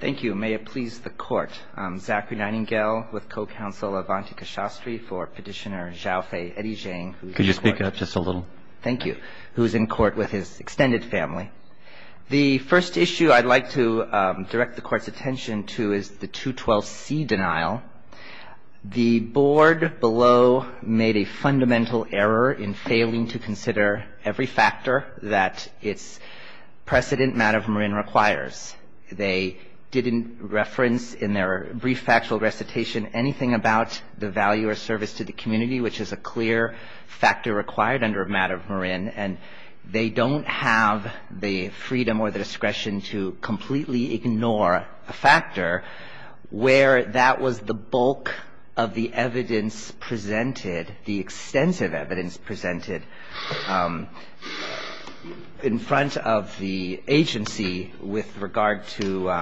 Thank you. May it please the Court. I'm Zachary Nightingale with Co-Counsel Avantika Shastri for Petitioner Xiaofei Edizheng. Could you speak up just a little? Thank you. Who's in court with his extended family. The first issue I'd like to direct the Court's attention to is the 212C denial. The Board below made a fundamental error in failing to consider every factor that its precedent matter of Marin requires. They didn't reference in their brief factual recitation anything about the value or service to the community, which is a clear factor required under a matter of Marin. And they don't have the freedom or the discretion to completely ignore a factor where that was the bulk of the evidence presented, the extensive evidence presented in front of the agency with regard to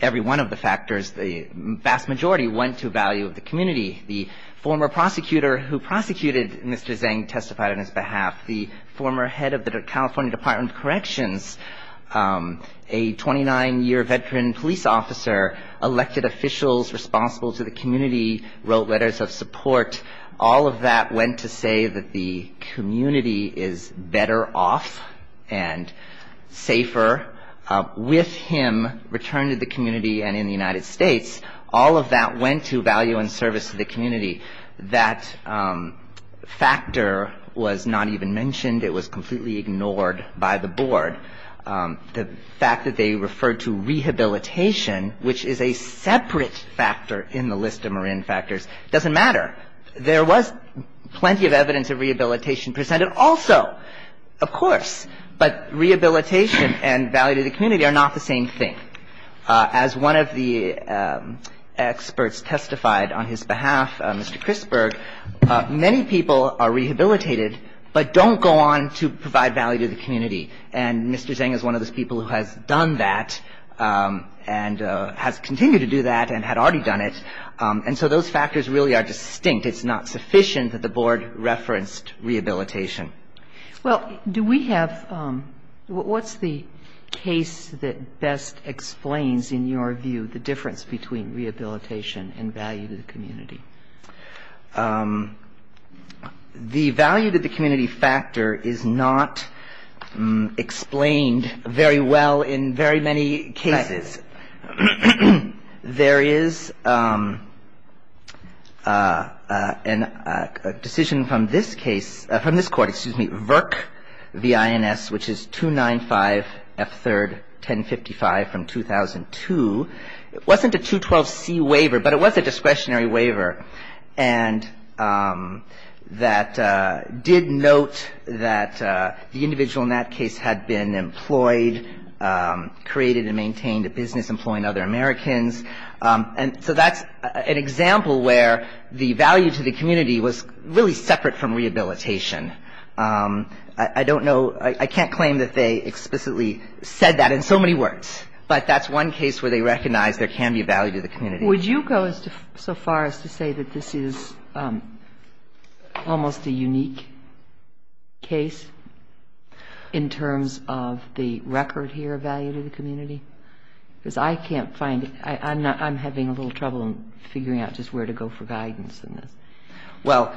every one of the factors. The vast majority went to value of the community. The former prosecutor who prosecuted Mr. Edizheng testified on his behalf. The former head of the California Department of Corrections, a 29-year veteran police officer, elected officials responsible to the community, wrote letters of support. All of that went to say that the community is better off and safer with him returned to the community and in the United States. All of that went to value and service to the community. That factor was not even mentioned. It was completely ignored by the Board. The fact that they referred to rehabilitation, which is a separate factor in the list of Marin factors, doesn't matter. There was plenty of evidence of rehabilitation presented also, of course, but rehabilitation and value to the community are not the same thing. As one of the experts testified on his behalf, Mr. Chrisburg, many people are rehabilitated but don't go on to provide value to the community. And Mr. Edizheng is one of those people who has done that and has continued to do that and had already done it. And so those factors really are distinct. It's not sufficient that the Board referenced rehabilitation. Well, do we have what's the case that best explains, in your view, the difference between rehabilitation and value to the community? The value to the community factor is not explained very well in very many cases. There is a decision from this case, from this Court, excuse me, VIRC v. INS, which is 295 F3rd 1055 from 2002. It wasn't a 212C waiver, but it was a discretionary waiver and that did note that the individual in that case had been employed, created and maintained a business employing other Americans. And so that's an example where the value to the community was really separate from rehabilitation. I don't know, I can't claim that they explicitly said that in so many words, but that's one case where they recognize there can be value to the community. Would you go so far as to say that this is almost a unique case in terms of the record here of value to the community? Because I can't find it. I'm having a little trouble in figuring out just where to go for guidance in this. Well,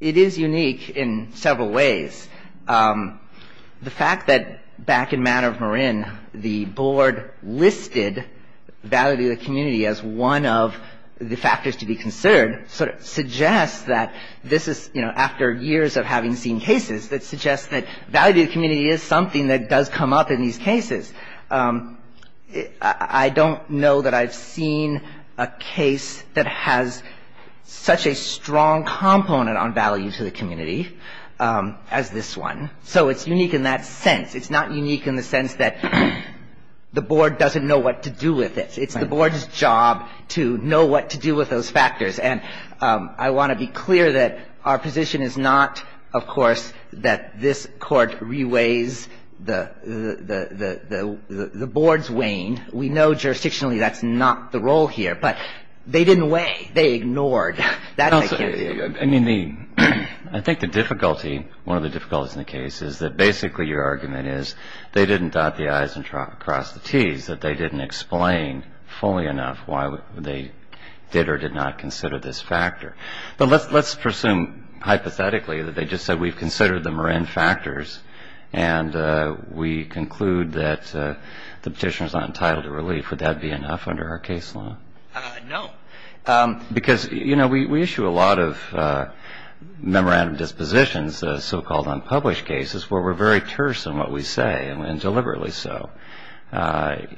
it is unique in several ways. The fact that back in Manor of Marin, the Board listed value to the community as one of the factors to be considered, sort of suggests that this is, you know, after years of having seen cases, that suggests that value to the community is something that does come up in these cases. I don't know that I've seen a case that has such a strong component on value to the community as this one. So it's unique in that sense. It's not unique in the sense that the Board doesn't know what to do with it. It's the Board's job to know what to do with those factors. And I want to be clear that our position is not, of course, that this Court reweighs the Board's weigh-in. We know jurisdictionally that's not the role here. But they didn't weigh. They ignored. I mean, I think the difficulty, one of the difficulties in the case, is that basically your argument is they didn't dot the i's and cross the t's, that they didn't explain fully enough why they did or did not consider this factor. But let's presume hypothetically that they just said we've considered the Marin factors and we conclude that the Petitioner's not entitled to relief. Would that be enough under our case law? No. Because, you know, we issue a lot of memorandum dispositions, so-called unpublished cases, where we're very terse in what we say, and deliberately so.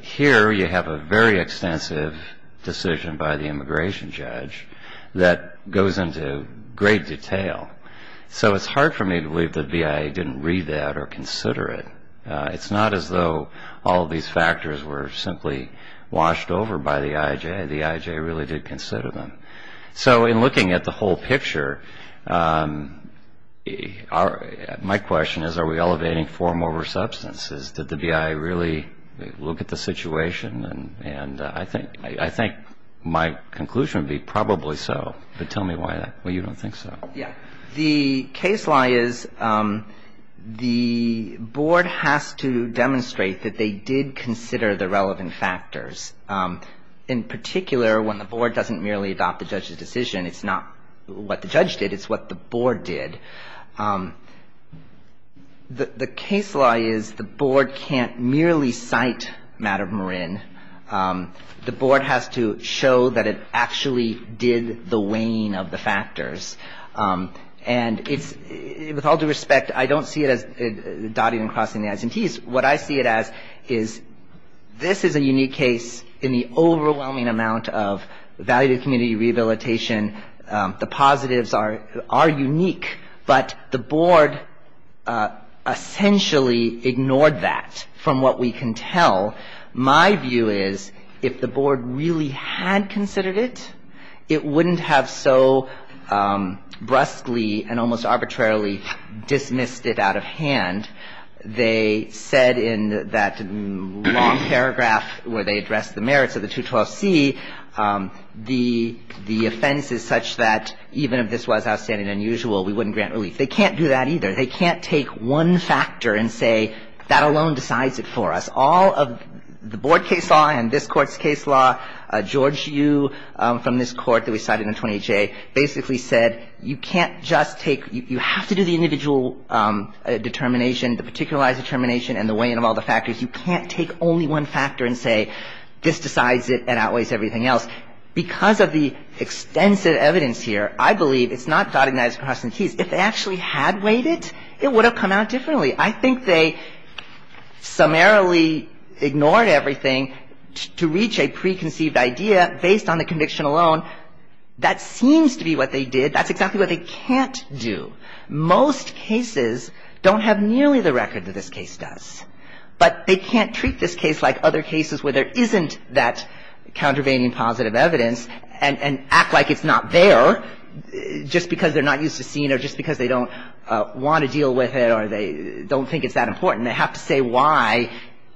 Here you have a very extensive decision by the immigration judge that goes into great detail. So it's hard for me to believe the BIA didn't read that or consider it. It's not as though all of these factors were simply washed over by the IJ. The IJ really did consider them. So in looking at the whole picture, my question is, are we elevating form over substance? Did the BIA really look at the situation? And I think my conclusion would be probably so. But tell me why you don't think so. The case law is the board has to demonstrate that they did consider the relevant factors, in particular when the board doesn't merely adopt the judge's decision. It's not what the judge did. It's what the board did. The case law is the board can't merely cite Madam Marin. The board has to show that it actually did the weighing of the factors. And it's, with all due respect, I don't see it as dotting and crossing the i's and t's. What I see it as is this is a unique case in the overwhelming amount of value to community rehabilitation. The positives are unique. But the board essentially ignored that from what we can tell. My view is if the board really had considered it, it wouldn't have so brusquely and almost arbitrarily dismissed it out of hand. They said in that long paragraph where they addressed the merits of the 212C, the offense is such that even if this was outstanding and unusual, we wouldn't grant relief. They can't do that either. They can't take one factor and say that alone decides it for us. All of the board case law and this Court's case law, George Yu from this Court that we cited in 20-J, basically said you can't just take you have to do the individual determination, the particularized determination and the weighing of all the factors. You can't take only one factor and say this decides it and outweighs everything else. Because of the extensive evidence here, I believe it's not dotting the i's, crossing the t's. If they actually had weighed it, it would have come out differently. I think they summarily ignored everything to reach a preconceived idea based on the conviction alone. That seems to be what they did. That's exactly what they can't do. Most cases don't have nearly the record that this case does. But they can't treat this case like other cases where there isn't that countervailing positive evidence and act like it's not there just because they're not used to seeing or just because they don't want to deal with it or they don't think it's that important. They have to say why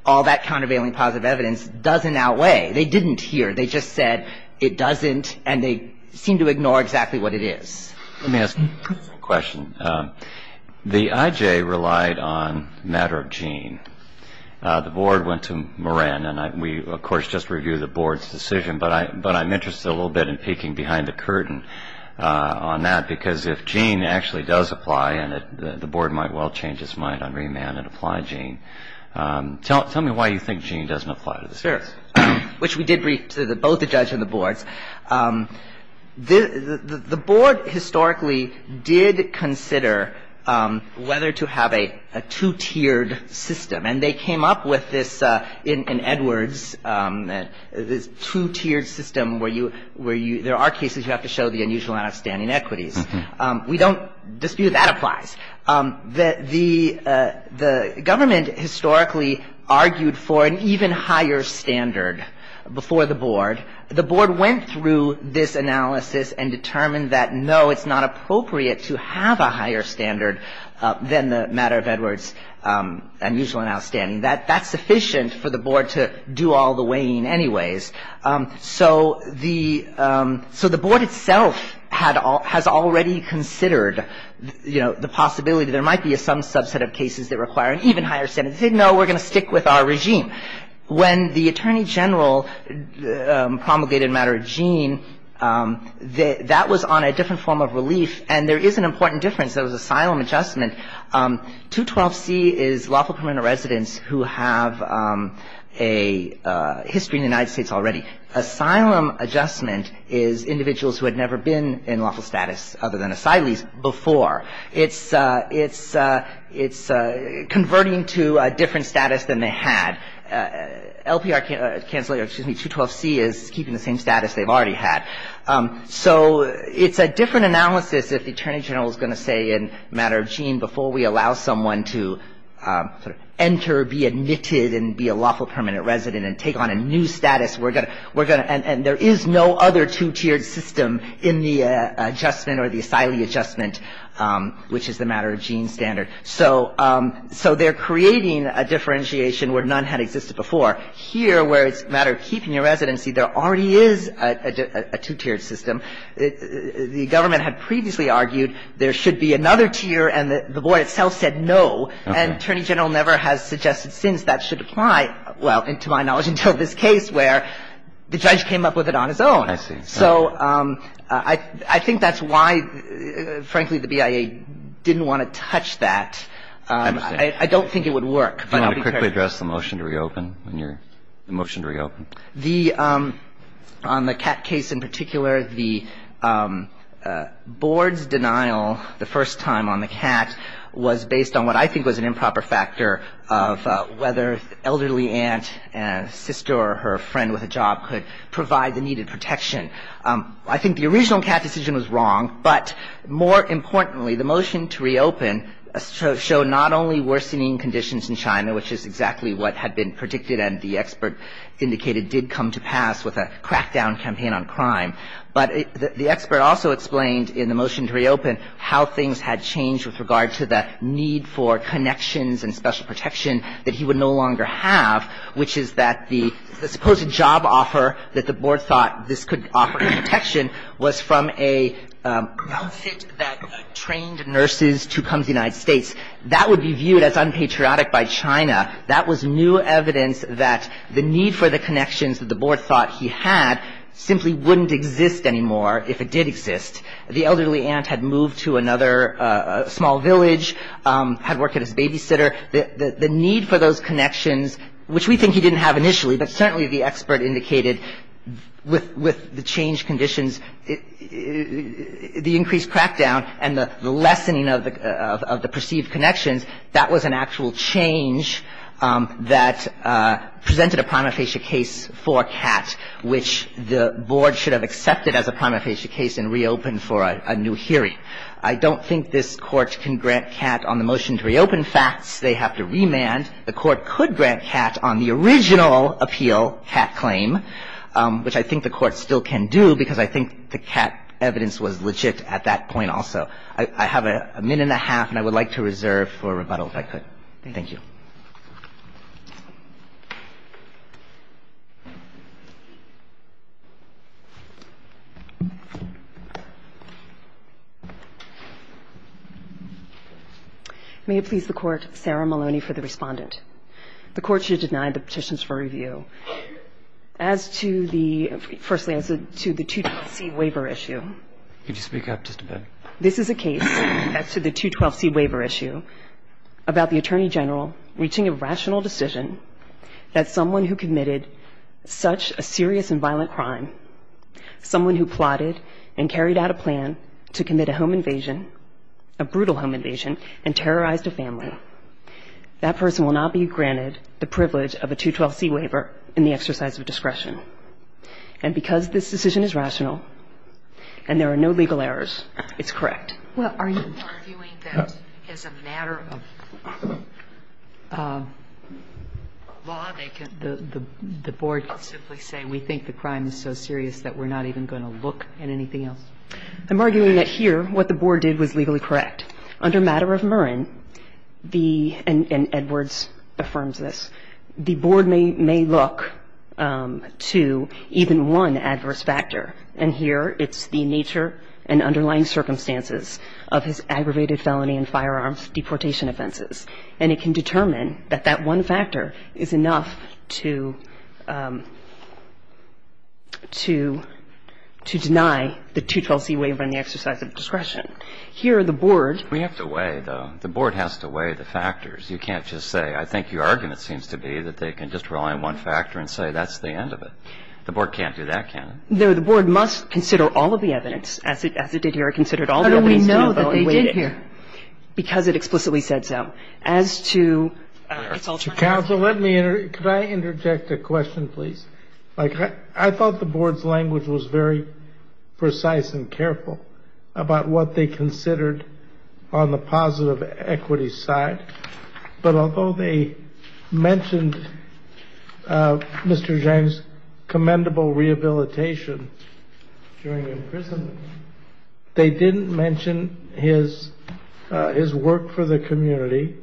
all that countervailing positive evidence doesn't outweigh. They didn't here. They just said it doesn't and they seem to ignore exactly what it is. Let me ask you a question. The IJ relied on matter of gene. The board went to Moran and we, of course, just reviewed the board's decision. But I'm interested a little bit in peeking behind the curtain on that because if gene actually does apply and the board might well change its mind on remand and apply gene. Tell me why you think gene doesn't apply to this case. Sure. Which we did brief to both the judge and the boards. The board historically did consider whether to have a two-tiered system. And they came up with this in Edwards, this two-tiered system where you – there are cases you have to show the unusual and outstanding equities. We don't dispute that applies. The government historically argued for an even higher standard before the board. The board went through this analysis and determined that no, it's not appropriate to have a higher standard than the matter of Edwards unusual and outstanding. That's sufficient for the board to do all the weighing anyways. So the board itself has already considered, you know, the possibility there might be some subset of cases that require an even higher standard. They said, no, we're going to stick with our regime. When the attorney general promulgated a matter of gene, that was on a different form of relief. And there is an important difference. There was asylum adjustment. 212C is lawful permanent residents who have a history in the United States already. Asylum adjustment is individuals who had never been in lawful status other than asylees before. It's converting to a different status than they had. LPR – excuse me, 212C is keeping the same status they've already had. So it's a different analysis if the attorney general is going to say in matter of gene, before we allow someone to enter, be admitted and be a lawful permanent resident and take on a new status, and there is no other two-tiered system in the adjustment or the asylee adjustment, which is the matter of gene standard. So they're creating a differentiation where none had existed before. Here, where it's a matter of keeping your residency, there already is a two-tiered system. The government had previously argued there should be another tier, and the board itself said no. And attorney general never has suggested since that should apply, well, to my knowledge, until this case where the judge came up with it on his own. I see. So I think that's why, frankly, the BIA didn't want to touch that. I don't think it would work. Do you want to quickly address the motion to reopen? The motion to reopen. On the cat case in particular, the board's denial the first time on the cat was based on what I think was an improper factor of whether the elderly aunt and sister or her friend with a job could provide the needed protection. I think the original cat decision was wrong, but more importantly, the motion to reopen showed not only worsening conditions in China, which is exactly what had been predicted and the expert indicated did come to pass with a crackdown campaign on crime, but the expert also explained in the motion to reopen how things had changed with regard to the need for connections and special protection that he would no longer have, which is that the supposed job offer that the board thought this could offer protection was from a fit that trained nurses to come to the United States. That would be viewed as unpatriotic by China. That was new evidence that the need for the connections that the board thought he had simply wouldn't exist anymore, if it did exist. The elderly aunt had moved to another small village, had worked as a babysitter. The need for those connections, which we think he didn't have initially, but certainly the expert indicated with the changed conditions, the increased crackdown and the lessening of the perceived connections, that was an actual change that presented a prima facie case for a cat, which the board should have accepted as a prima facie case and reopened for a new hearing. I don't think this Court can grant cat on the motion to reopen facts. They have to remand. The Court could grant cat on the original appeal, cat claim, which I think the Court still can do, because I think the cat evidence was legit at that point also. I have a minute and a half, and I would like to reserve for rebuttal, if I could. Thank you. May it please the Court, Sarah Maloney for the respondent. The Court should deny the petitions for review. As to the – firstly, as to the 212C waiver issue. This is a case, as to the 212C waiver issue, about the Attorney General reaching a rational decision that someone who committed such a serious and violent crime, someone who plotted and carried out a plan to commit a home invasion, a brutal home invasion, and terrorized a family, that person will not be granted the privilege of a 212C waiver in the exercise of discretion. And because this decision is rational and there are no legal errors, it's correct. Well, are you arguing that as a matter of law, they can – the Board can simply say we think the crime is so serious that we're not even going to look at anything else? I'm arguing that here what the Board did was legally correct. Under matter of Murrin, the – and Edwards affirms this – the Board may look to the 212C waiver in the exercise of discretion. The Board may look to even one adverse factor. And here it's the nature and underlying circumstances of his aggravated felony and firearms deportation offenses. And it can determine that that one factor is enough to – to deny the 212C waiver in the exercise of discretion. Here, the Board – We have to weigh, though. The Board has to weigh the factors. You can't just say, I think your argument seems to be that they can just rely on one factor and say that's the end of it. The Board can't do that, can it? No. The Board must consider all of the evidence, as it did here. It considered all the evidence. How do we know that they did here? Because it explicitly said so. As to – Counsel, let me – could I interject a question, please? Like, I thought the Board's language was very precise and careful about what they mentioned Mr. Zhang's commendable rehabilitation during imprisonment. They didn't mention his work for the community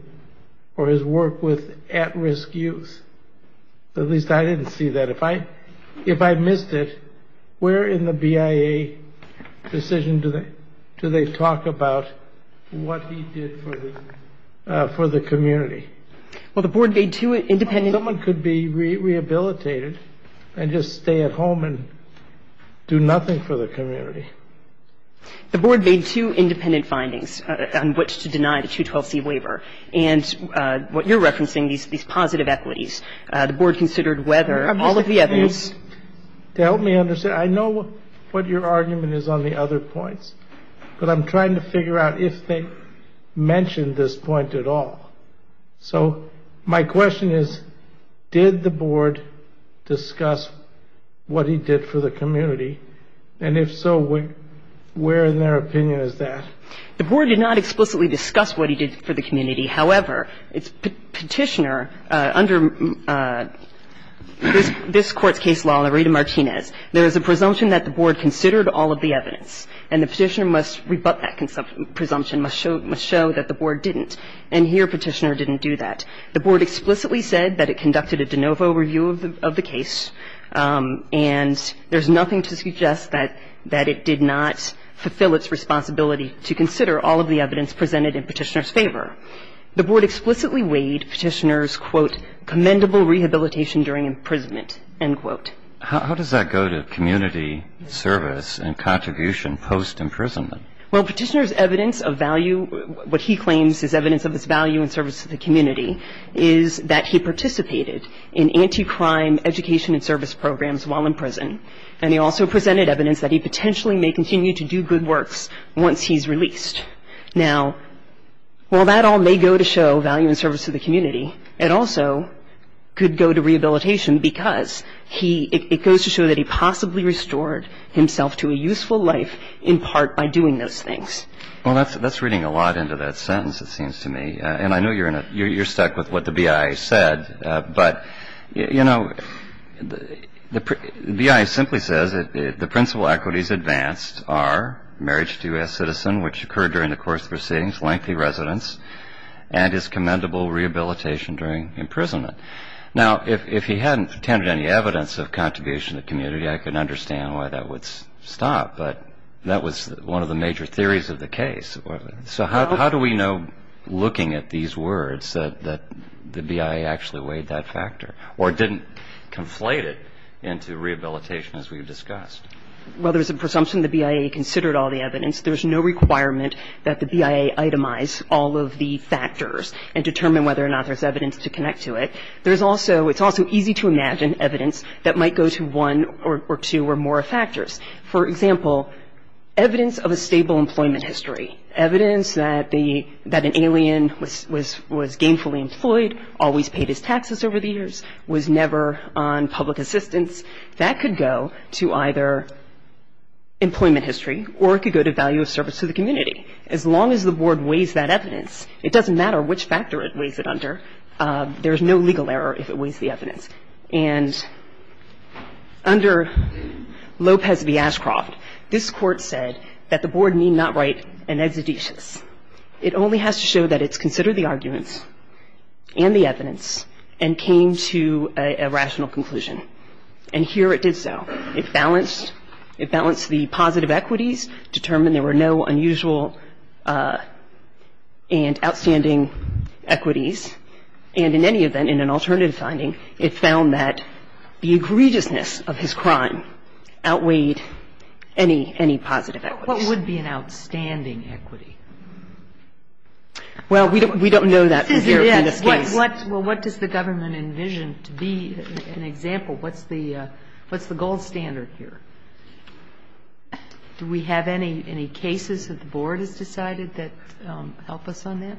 or his work with at-risk youth. At least, I didn't see that. If I missed it, where in the BIA decision do they talk about what he did for the community? Well, the Board made two independent – Someone could be rehabilitated and just stay at home and do nothing for the community. The Board made two independent findings on which to deny the 212C waiver. And what you're referencing, these positive equities, the Board considered whether all of the evidence – To help me understand, I know what your argument is on the other points, but I'm trying to figure out if they mentioned this point at all. So my question is, did the Board discuss what he did for the community? And if so, where in their opinion is that? The Board did not explicitly discuss what he did for the community. However, its Petitioner, under this Court's case law in the Rita Martinez, there is a presumption that the Board considered all of the evidence. And the Petitioner must rebut that presumption, must show that the Board didn't. And here, Petitioner didn't do that. The Board explicitly said that it conducted a de novo review of the case, and there's nothing to suggest that it did not fulfill its responsibility to consider all of the evidence presented in Petitioner's favor. The Board explicitly weighed Petitioner's, quote, commendable rehabilitation during imprisonment, end quote. How does that go to community service and contribution post-imprisonment? Well, Petitioner's evidence of value, what he claims is evidence of its value in service to the community, is that he participated in anti-crime education and service programs while in prison. And he also presented evidence that he potentially may continue to do good works once he's released. Now, while that all may go to show value in service to the community, it also could go to rehabilitation because he – it goes to show that he possibly restored himself to a useful life in part by doing those things. Well, that's reading a lot into that sentence, it seems to me. And I know you're in a – you're stuck with what the BIA said, but, you know, the BIA simply says the principal equities advanced are marriage to U.S. citizen, which occurred during the course of proceedings, lengthy residence, and is commendable rehabilitation during imprisonment. Now, if he hadn't attended any evidence of contribution to the community, I can understand why that would stop, but that was one of the major theories of the case. So how do we know, looking at these words, that the BIA actually weighed that factor or didn't conflate it into rehabilitation as we've discussed? Well, there's a presumption the BIA considered all the evidence. There's no requirement that the BIA itemize all of the factors and determine whether or not there's evidence to connect to it. There's also – it's also easy to imagine evidence that might go to one or two or more factors. For example, evidence of a stable employment history, evidence that the – that an alien was gainfully employed, always paid his taxes over the years, was never on public assistance, that could go to either employment history or it could go to value of service to the community. As long as the Board weighs that evidence, it doesn't matter which factor it weighs it under. There's no legal error if it weighs the evidence. And under Lopez v. Ashcroft, this Court said that the Board need not write an exedesis. It only has to show that it's considered the arguments and the evidence and came to a rational conclusion. And here it did so. It balanced the positive equities, determined there were no unusual and outstanding equities, and in any event, in an alternative finding, it found that the egregiousness of his crime outweighed any positive equities. But what would be an outstanding equity? Kagan. What does the Government envision to be an example? What's the gold standard here? Do we have any cases that the Board has decided that help us on that?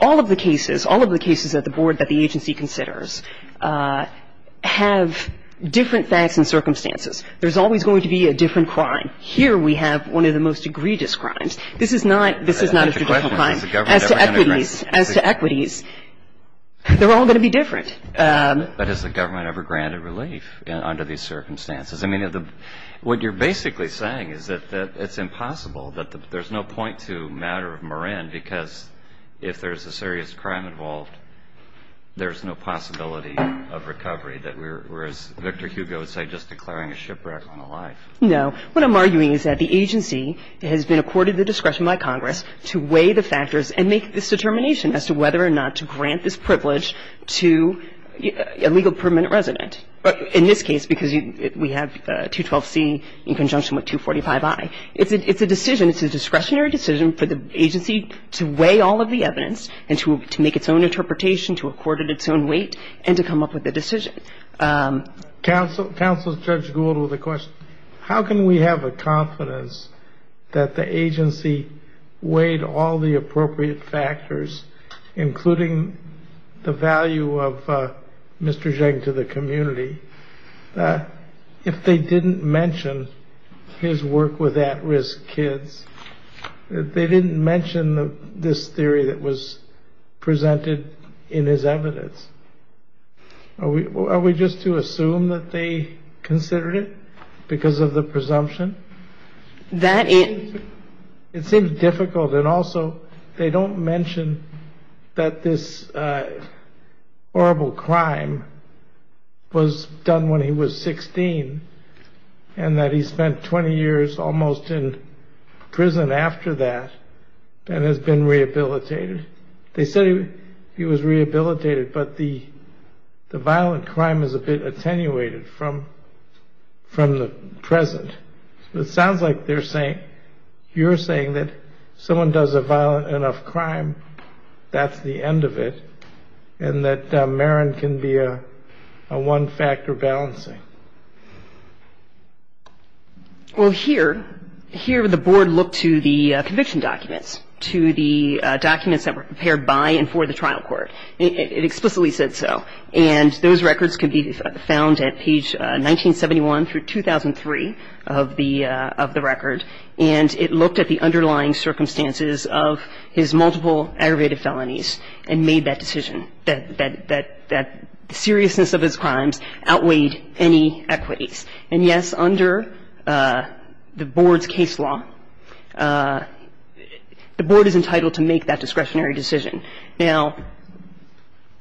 All of the cases, all of the cases that the Board, that the agency considers, have different facts and circumstances. There's always going to be a different crime. Here we have one of the most egregious crimes. This is not a traditional crime. As to equities, as to equities, they're all going to be different. But has the Government ever granted relief under these circumstances? I mean, what you're basically saying is that it's impossible, that there's no point to matter of Marin because if there's a serious crime involved, there's no possibility of recovery. Whereas Victor Hugo would say just declaring a shipwreck on a life. No. What I'm arguing is that the agency has been accorded the discretion by Congress to weigh the factors and make this determination as to whether or not to grant this privilege to a legal permanent resident. In this case, because we have 212C in conjunction with 245I. It's a decision, it's a discretionary decision for the agency to weigh all of the evidence and to make its own interpretation, to accord it its own weight, and to come up with a decision. Counsel Judge Gould with a question. How can we have a confidence that the agency weighed all the appropriate factors, including the value of Mr. Zheng to the community, if they didn't mention his work with at-risk kids, if they didn't mention this theory that was presented in his evidence? Are we just to assume that they considered it because of the presumption? It seems difficult. And also, they don't mention that this horrible crime was done when he was 16, and that he spent 20 years almost in prison after that and has been rehabilitated. They said he was rehabilitated, but the violent crime is a bit attenuated from the present. It sounds like you're saying that someone does a violent enough crime, that's the end of it, and that Marin can be a one-factor balancing. Well, here, here the Board looked to the conviction documents, to the documents that were prepared by and for the trial court. It explicitly said so. And those records can be found at page 1971 through 2003 of the record. And it looked at the underlying circumstances of his multiple aggravated felonies and made that decision, that the seriousness of his crimes outweighed any of the other many equities. And yes, under the Board's case law, the Board is entitled to make that discretionary decision. Now,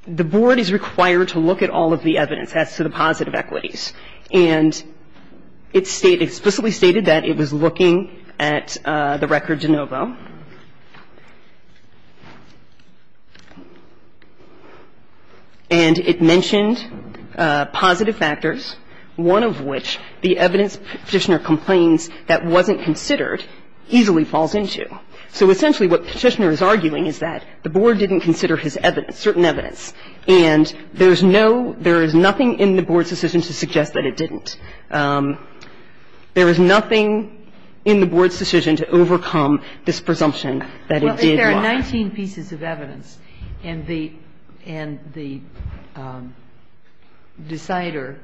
the Board is required to look at all of the evidence as to the positive equities. And it explicitly stated that it was looking at the record de novo. And it mentioned positive factors. And that's what the evidence Petitioner was considering, the evidence Petitioner was considering would suggest, one of which, the evidence Petitioner complains that wasn't considered, easily falls into. So essentially what Petitioner is arguing is that the Board didn't consider his evidence, certain evidence. And there's no — there is nothing in the Board's decision to suggest that it didn't. There is nothing in the Board's decision to overcome this presumption that it did lie. Kagan. Well, if there are 19 pieces of evidence and the — and the decider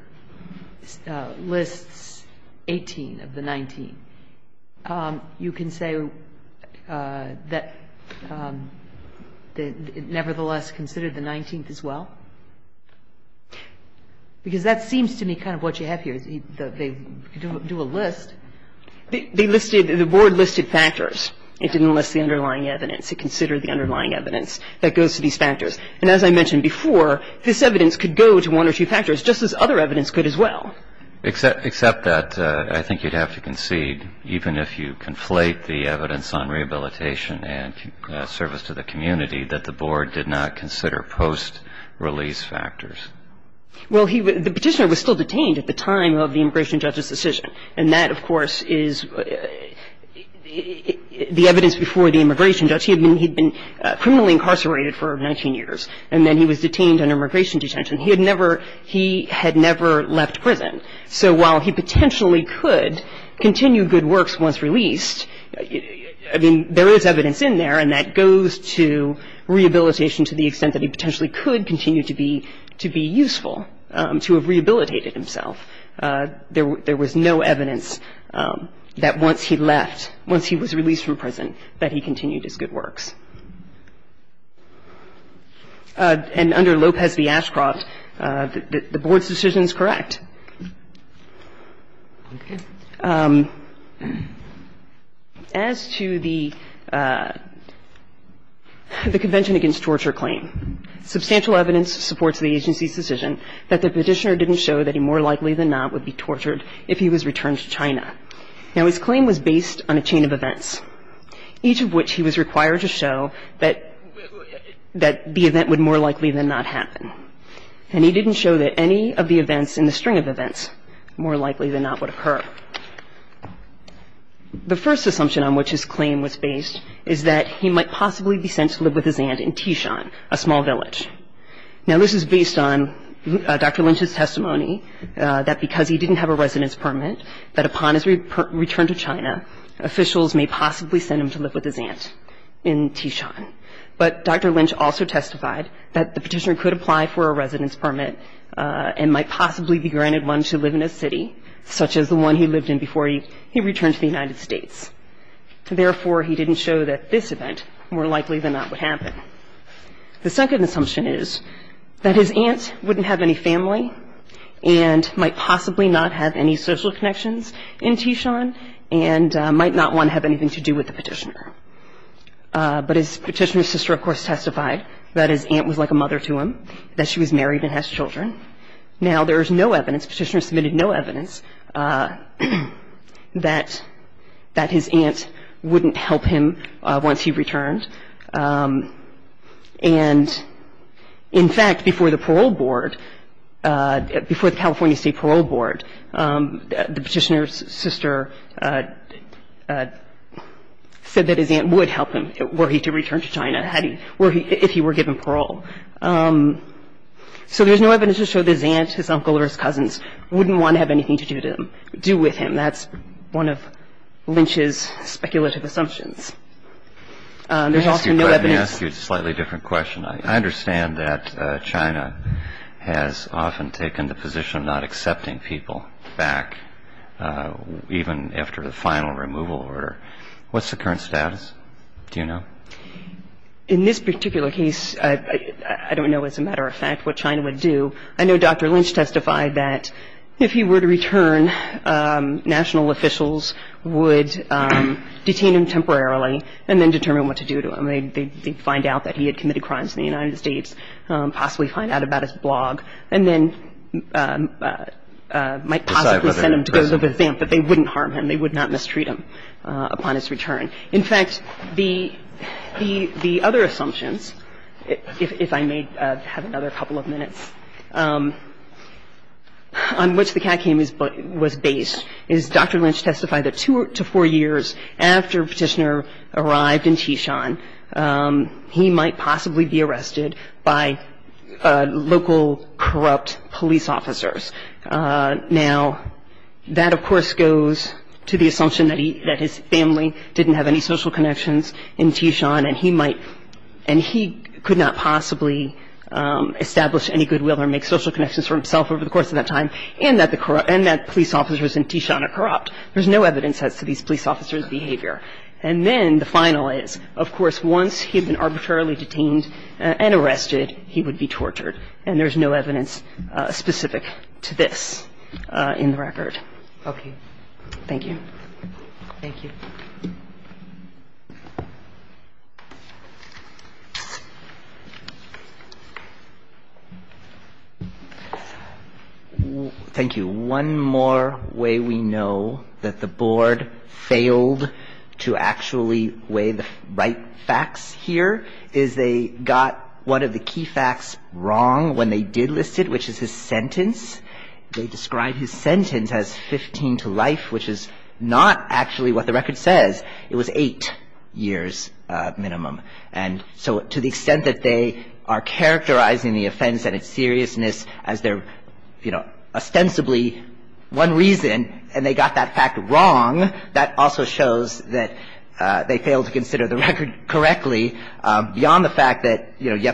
lists 18 of the 19, you can say that it nevertheless considered the 19th as well? Because that seems to me kind of what you have here. They do a list. They listed — the Board listed factors. It didn't list the underlying evidence. It considered the underlying evidence that goes to these factors. And as I mentioned before, this evidence could go to one or two factors, just as other evidence could as well. Except that I think you'd have to concede, even if you conflate the evidence on rehabilitation and service to the community, that the Board did not consider post-release factors. Well, he — the Petitioner was still detained at the time of the immigration judge's And that, of course, is the evidence before the immigration judge. He had been criminally incarcerated for 19 years, and then he was detained under immigration detention. He had never — he had never left prison. So while he potentially could continue good works once released, I mean, there is evidence in there, and that goes to rehabilitation to the extent that he potentially could continue to be useful, to have rehabilitated himself. There was no evidence that once he left, once he was released from prison, that he continued his good works. And under Lopez v. Ashcroft, the Board's decision is correct. As to the Convention Against Torture claim, substantial evidence supports the agency's decision that the Petitioner didn't show that he more likely than not would be tortured if he was returned to China. Now, his claim was based on a chain of events, each of which he was required to show that — that the event would more likely than not happen. And he didn't show that any of the events in the string of events more likely than not would occur. The first assumption on which his claim was based is that he might possibly be sent to live with his aunt in Tishan, a small village. Now, this is based on Dr. Lynch's testimony that because he didn't have a residence permit, that upon his return to China, officials may possibly send him to live with his aunt in Tishan. But Dr. Lynch also testified that the Petitioner could apply for a residence permit and might possibly be granted one to live in a city, such as the one he lived in before he returned to the United States. Therefore, he didn't show that this event more likely than not would happen. The second assumption is that his aunt wouldn't have any family and might possibly not have any social connections in Tishan and might not want to have anything to do with the Petitioner. But his Petitioner's sister, of course, testified that his aunt was like a mother to him, that she was married and has children. Now, there is no evidence, Petitioner submitted no evidence, that his aunt wouldn't help him once he returned. And in fact, before the parole board, before the California State Parole Board, the Petitioner's aunt would help him were he to return to China if he were given parole. So there's no evidence to show that his aunt, his uncle, or his cousins wouldn't want to have anything to do with him. That's one of Lynch's speculative assumptions. There's also no evidence to show that his uncle or his cousins wouldn't want to have anything to do with him. That's one of Lynch's speculative assumptions. In this particular case, I don't know, as a matter of fact, what China would do. I know Dr. Lynch testified that if he were to return, national officials would detain him temporarily and then determine what to do to him. They'd find out that he had committed crimes in the United States, possibly find out that he had committed crimes in the United States, and then possibly send him to go live with them. But they wouldn't harm him. They would not mistreat him upon his return. In fact, the other assumptions, if I may have another couple of minutes, on which the CAC was based is Dr. Lynch testified that two to four years after Petitioner arrived in Tishan, he might possibly be arrested by local corrupt police officers. Now, that, of course, goes to the assumption that he – that his family didn't have any social connections in Tishan, and he might – and he could not possibly establish any goodwill or make social connections for himself over the course of that time, and that police officers in Tishan are corrupt. So the assumption is that Petitioner's family didn't have any social connections in Tishan, and he might possibly be arrested by local corrupt police officers. And then the final is, of course, once he had been arbitrarily detained and arrested, he would be tortured. And there's no evidence specific to this in the record. Thank you. Thank you. Thank you. One more way we know that the Board failed to actually weigh the right facts here is they got one of the key facts wrong when they did list it, which is his sentence. They described his sentence as 15 to life, which is not actually what the record says. It was eight years minimum. And so to the extent that they are characterizing the offense and its seriousness as their, you know, ostensibly one reason, and they got that fact wrong, that also shows that they failed to consider the record correctly beyond the fact that, you know, it's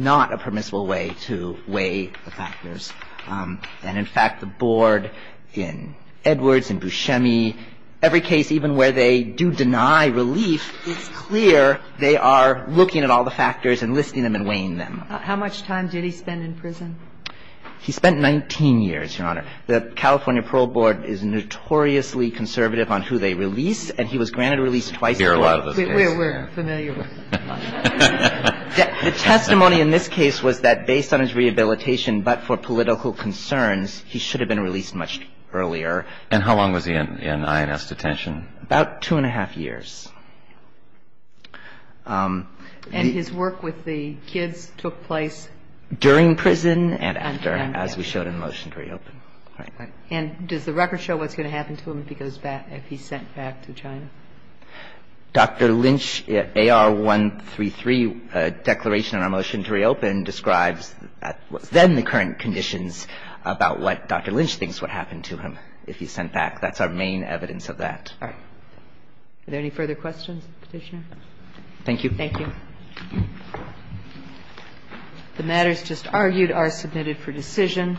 not a permissible way to weigh the factors. And in fact, the Board in Edwards, in Buscemi, every case even where they do deny relief, it's clear they are looking at all the factors and listing them and weighing them. How much time did he spend in prison? He spent 19 years, Your Honor. The California Parole Board is notoriously conservative on who they release, and he was granted a release twice. And that's what we're looking at here. We're not going to hear a lot of this case. We're familiar with it. The testimony in this case was that based on his rehabilitation but for political concerns, he should have been released much earlier. And how long was he in INS detention? About two and a half years. And his work with the kids took place? During prison and after, as we showed in the motion to reopen. All right. And does the record show what's going to happen to him if he goes back, if he's sent back to China? Dr. Lynch, AR-133 declaration in our motion to reopen describes then the current conditions about what Dr. Lynch thinks would happen to him if he's sent back. That's our main evidence of that. All right. Are there any further questions, Petitioner? Thank you. Thank you. The matters just argued are submitted for decision.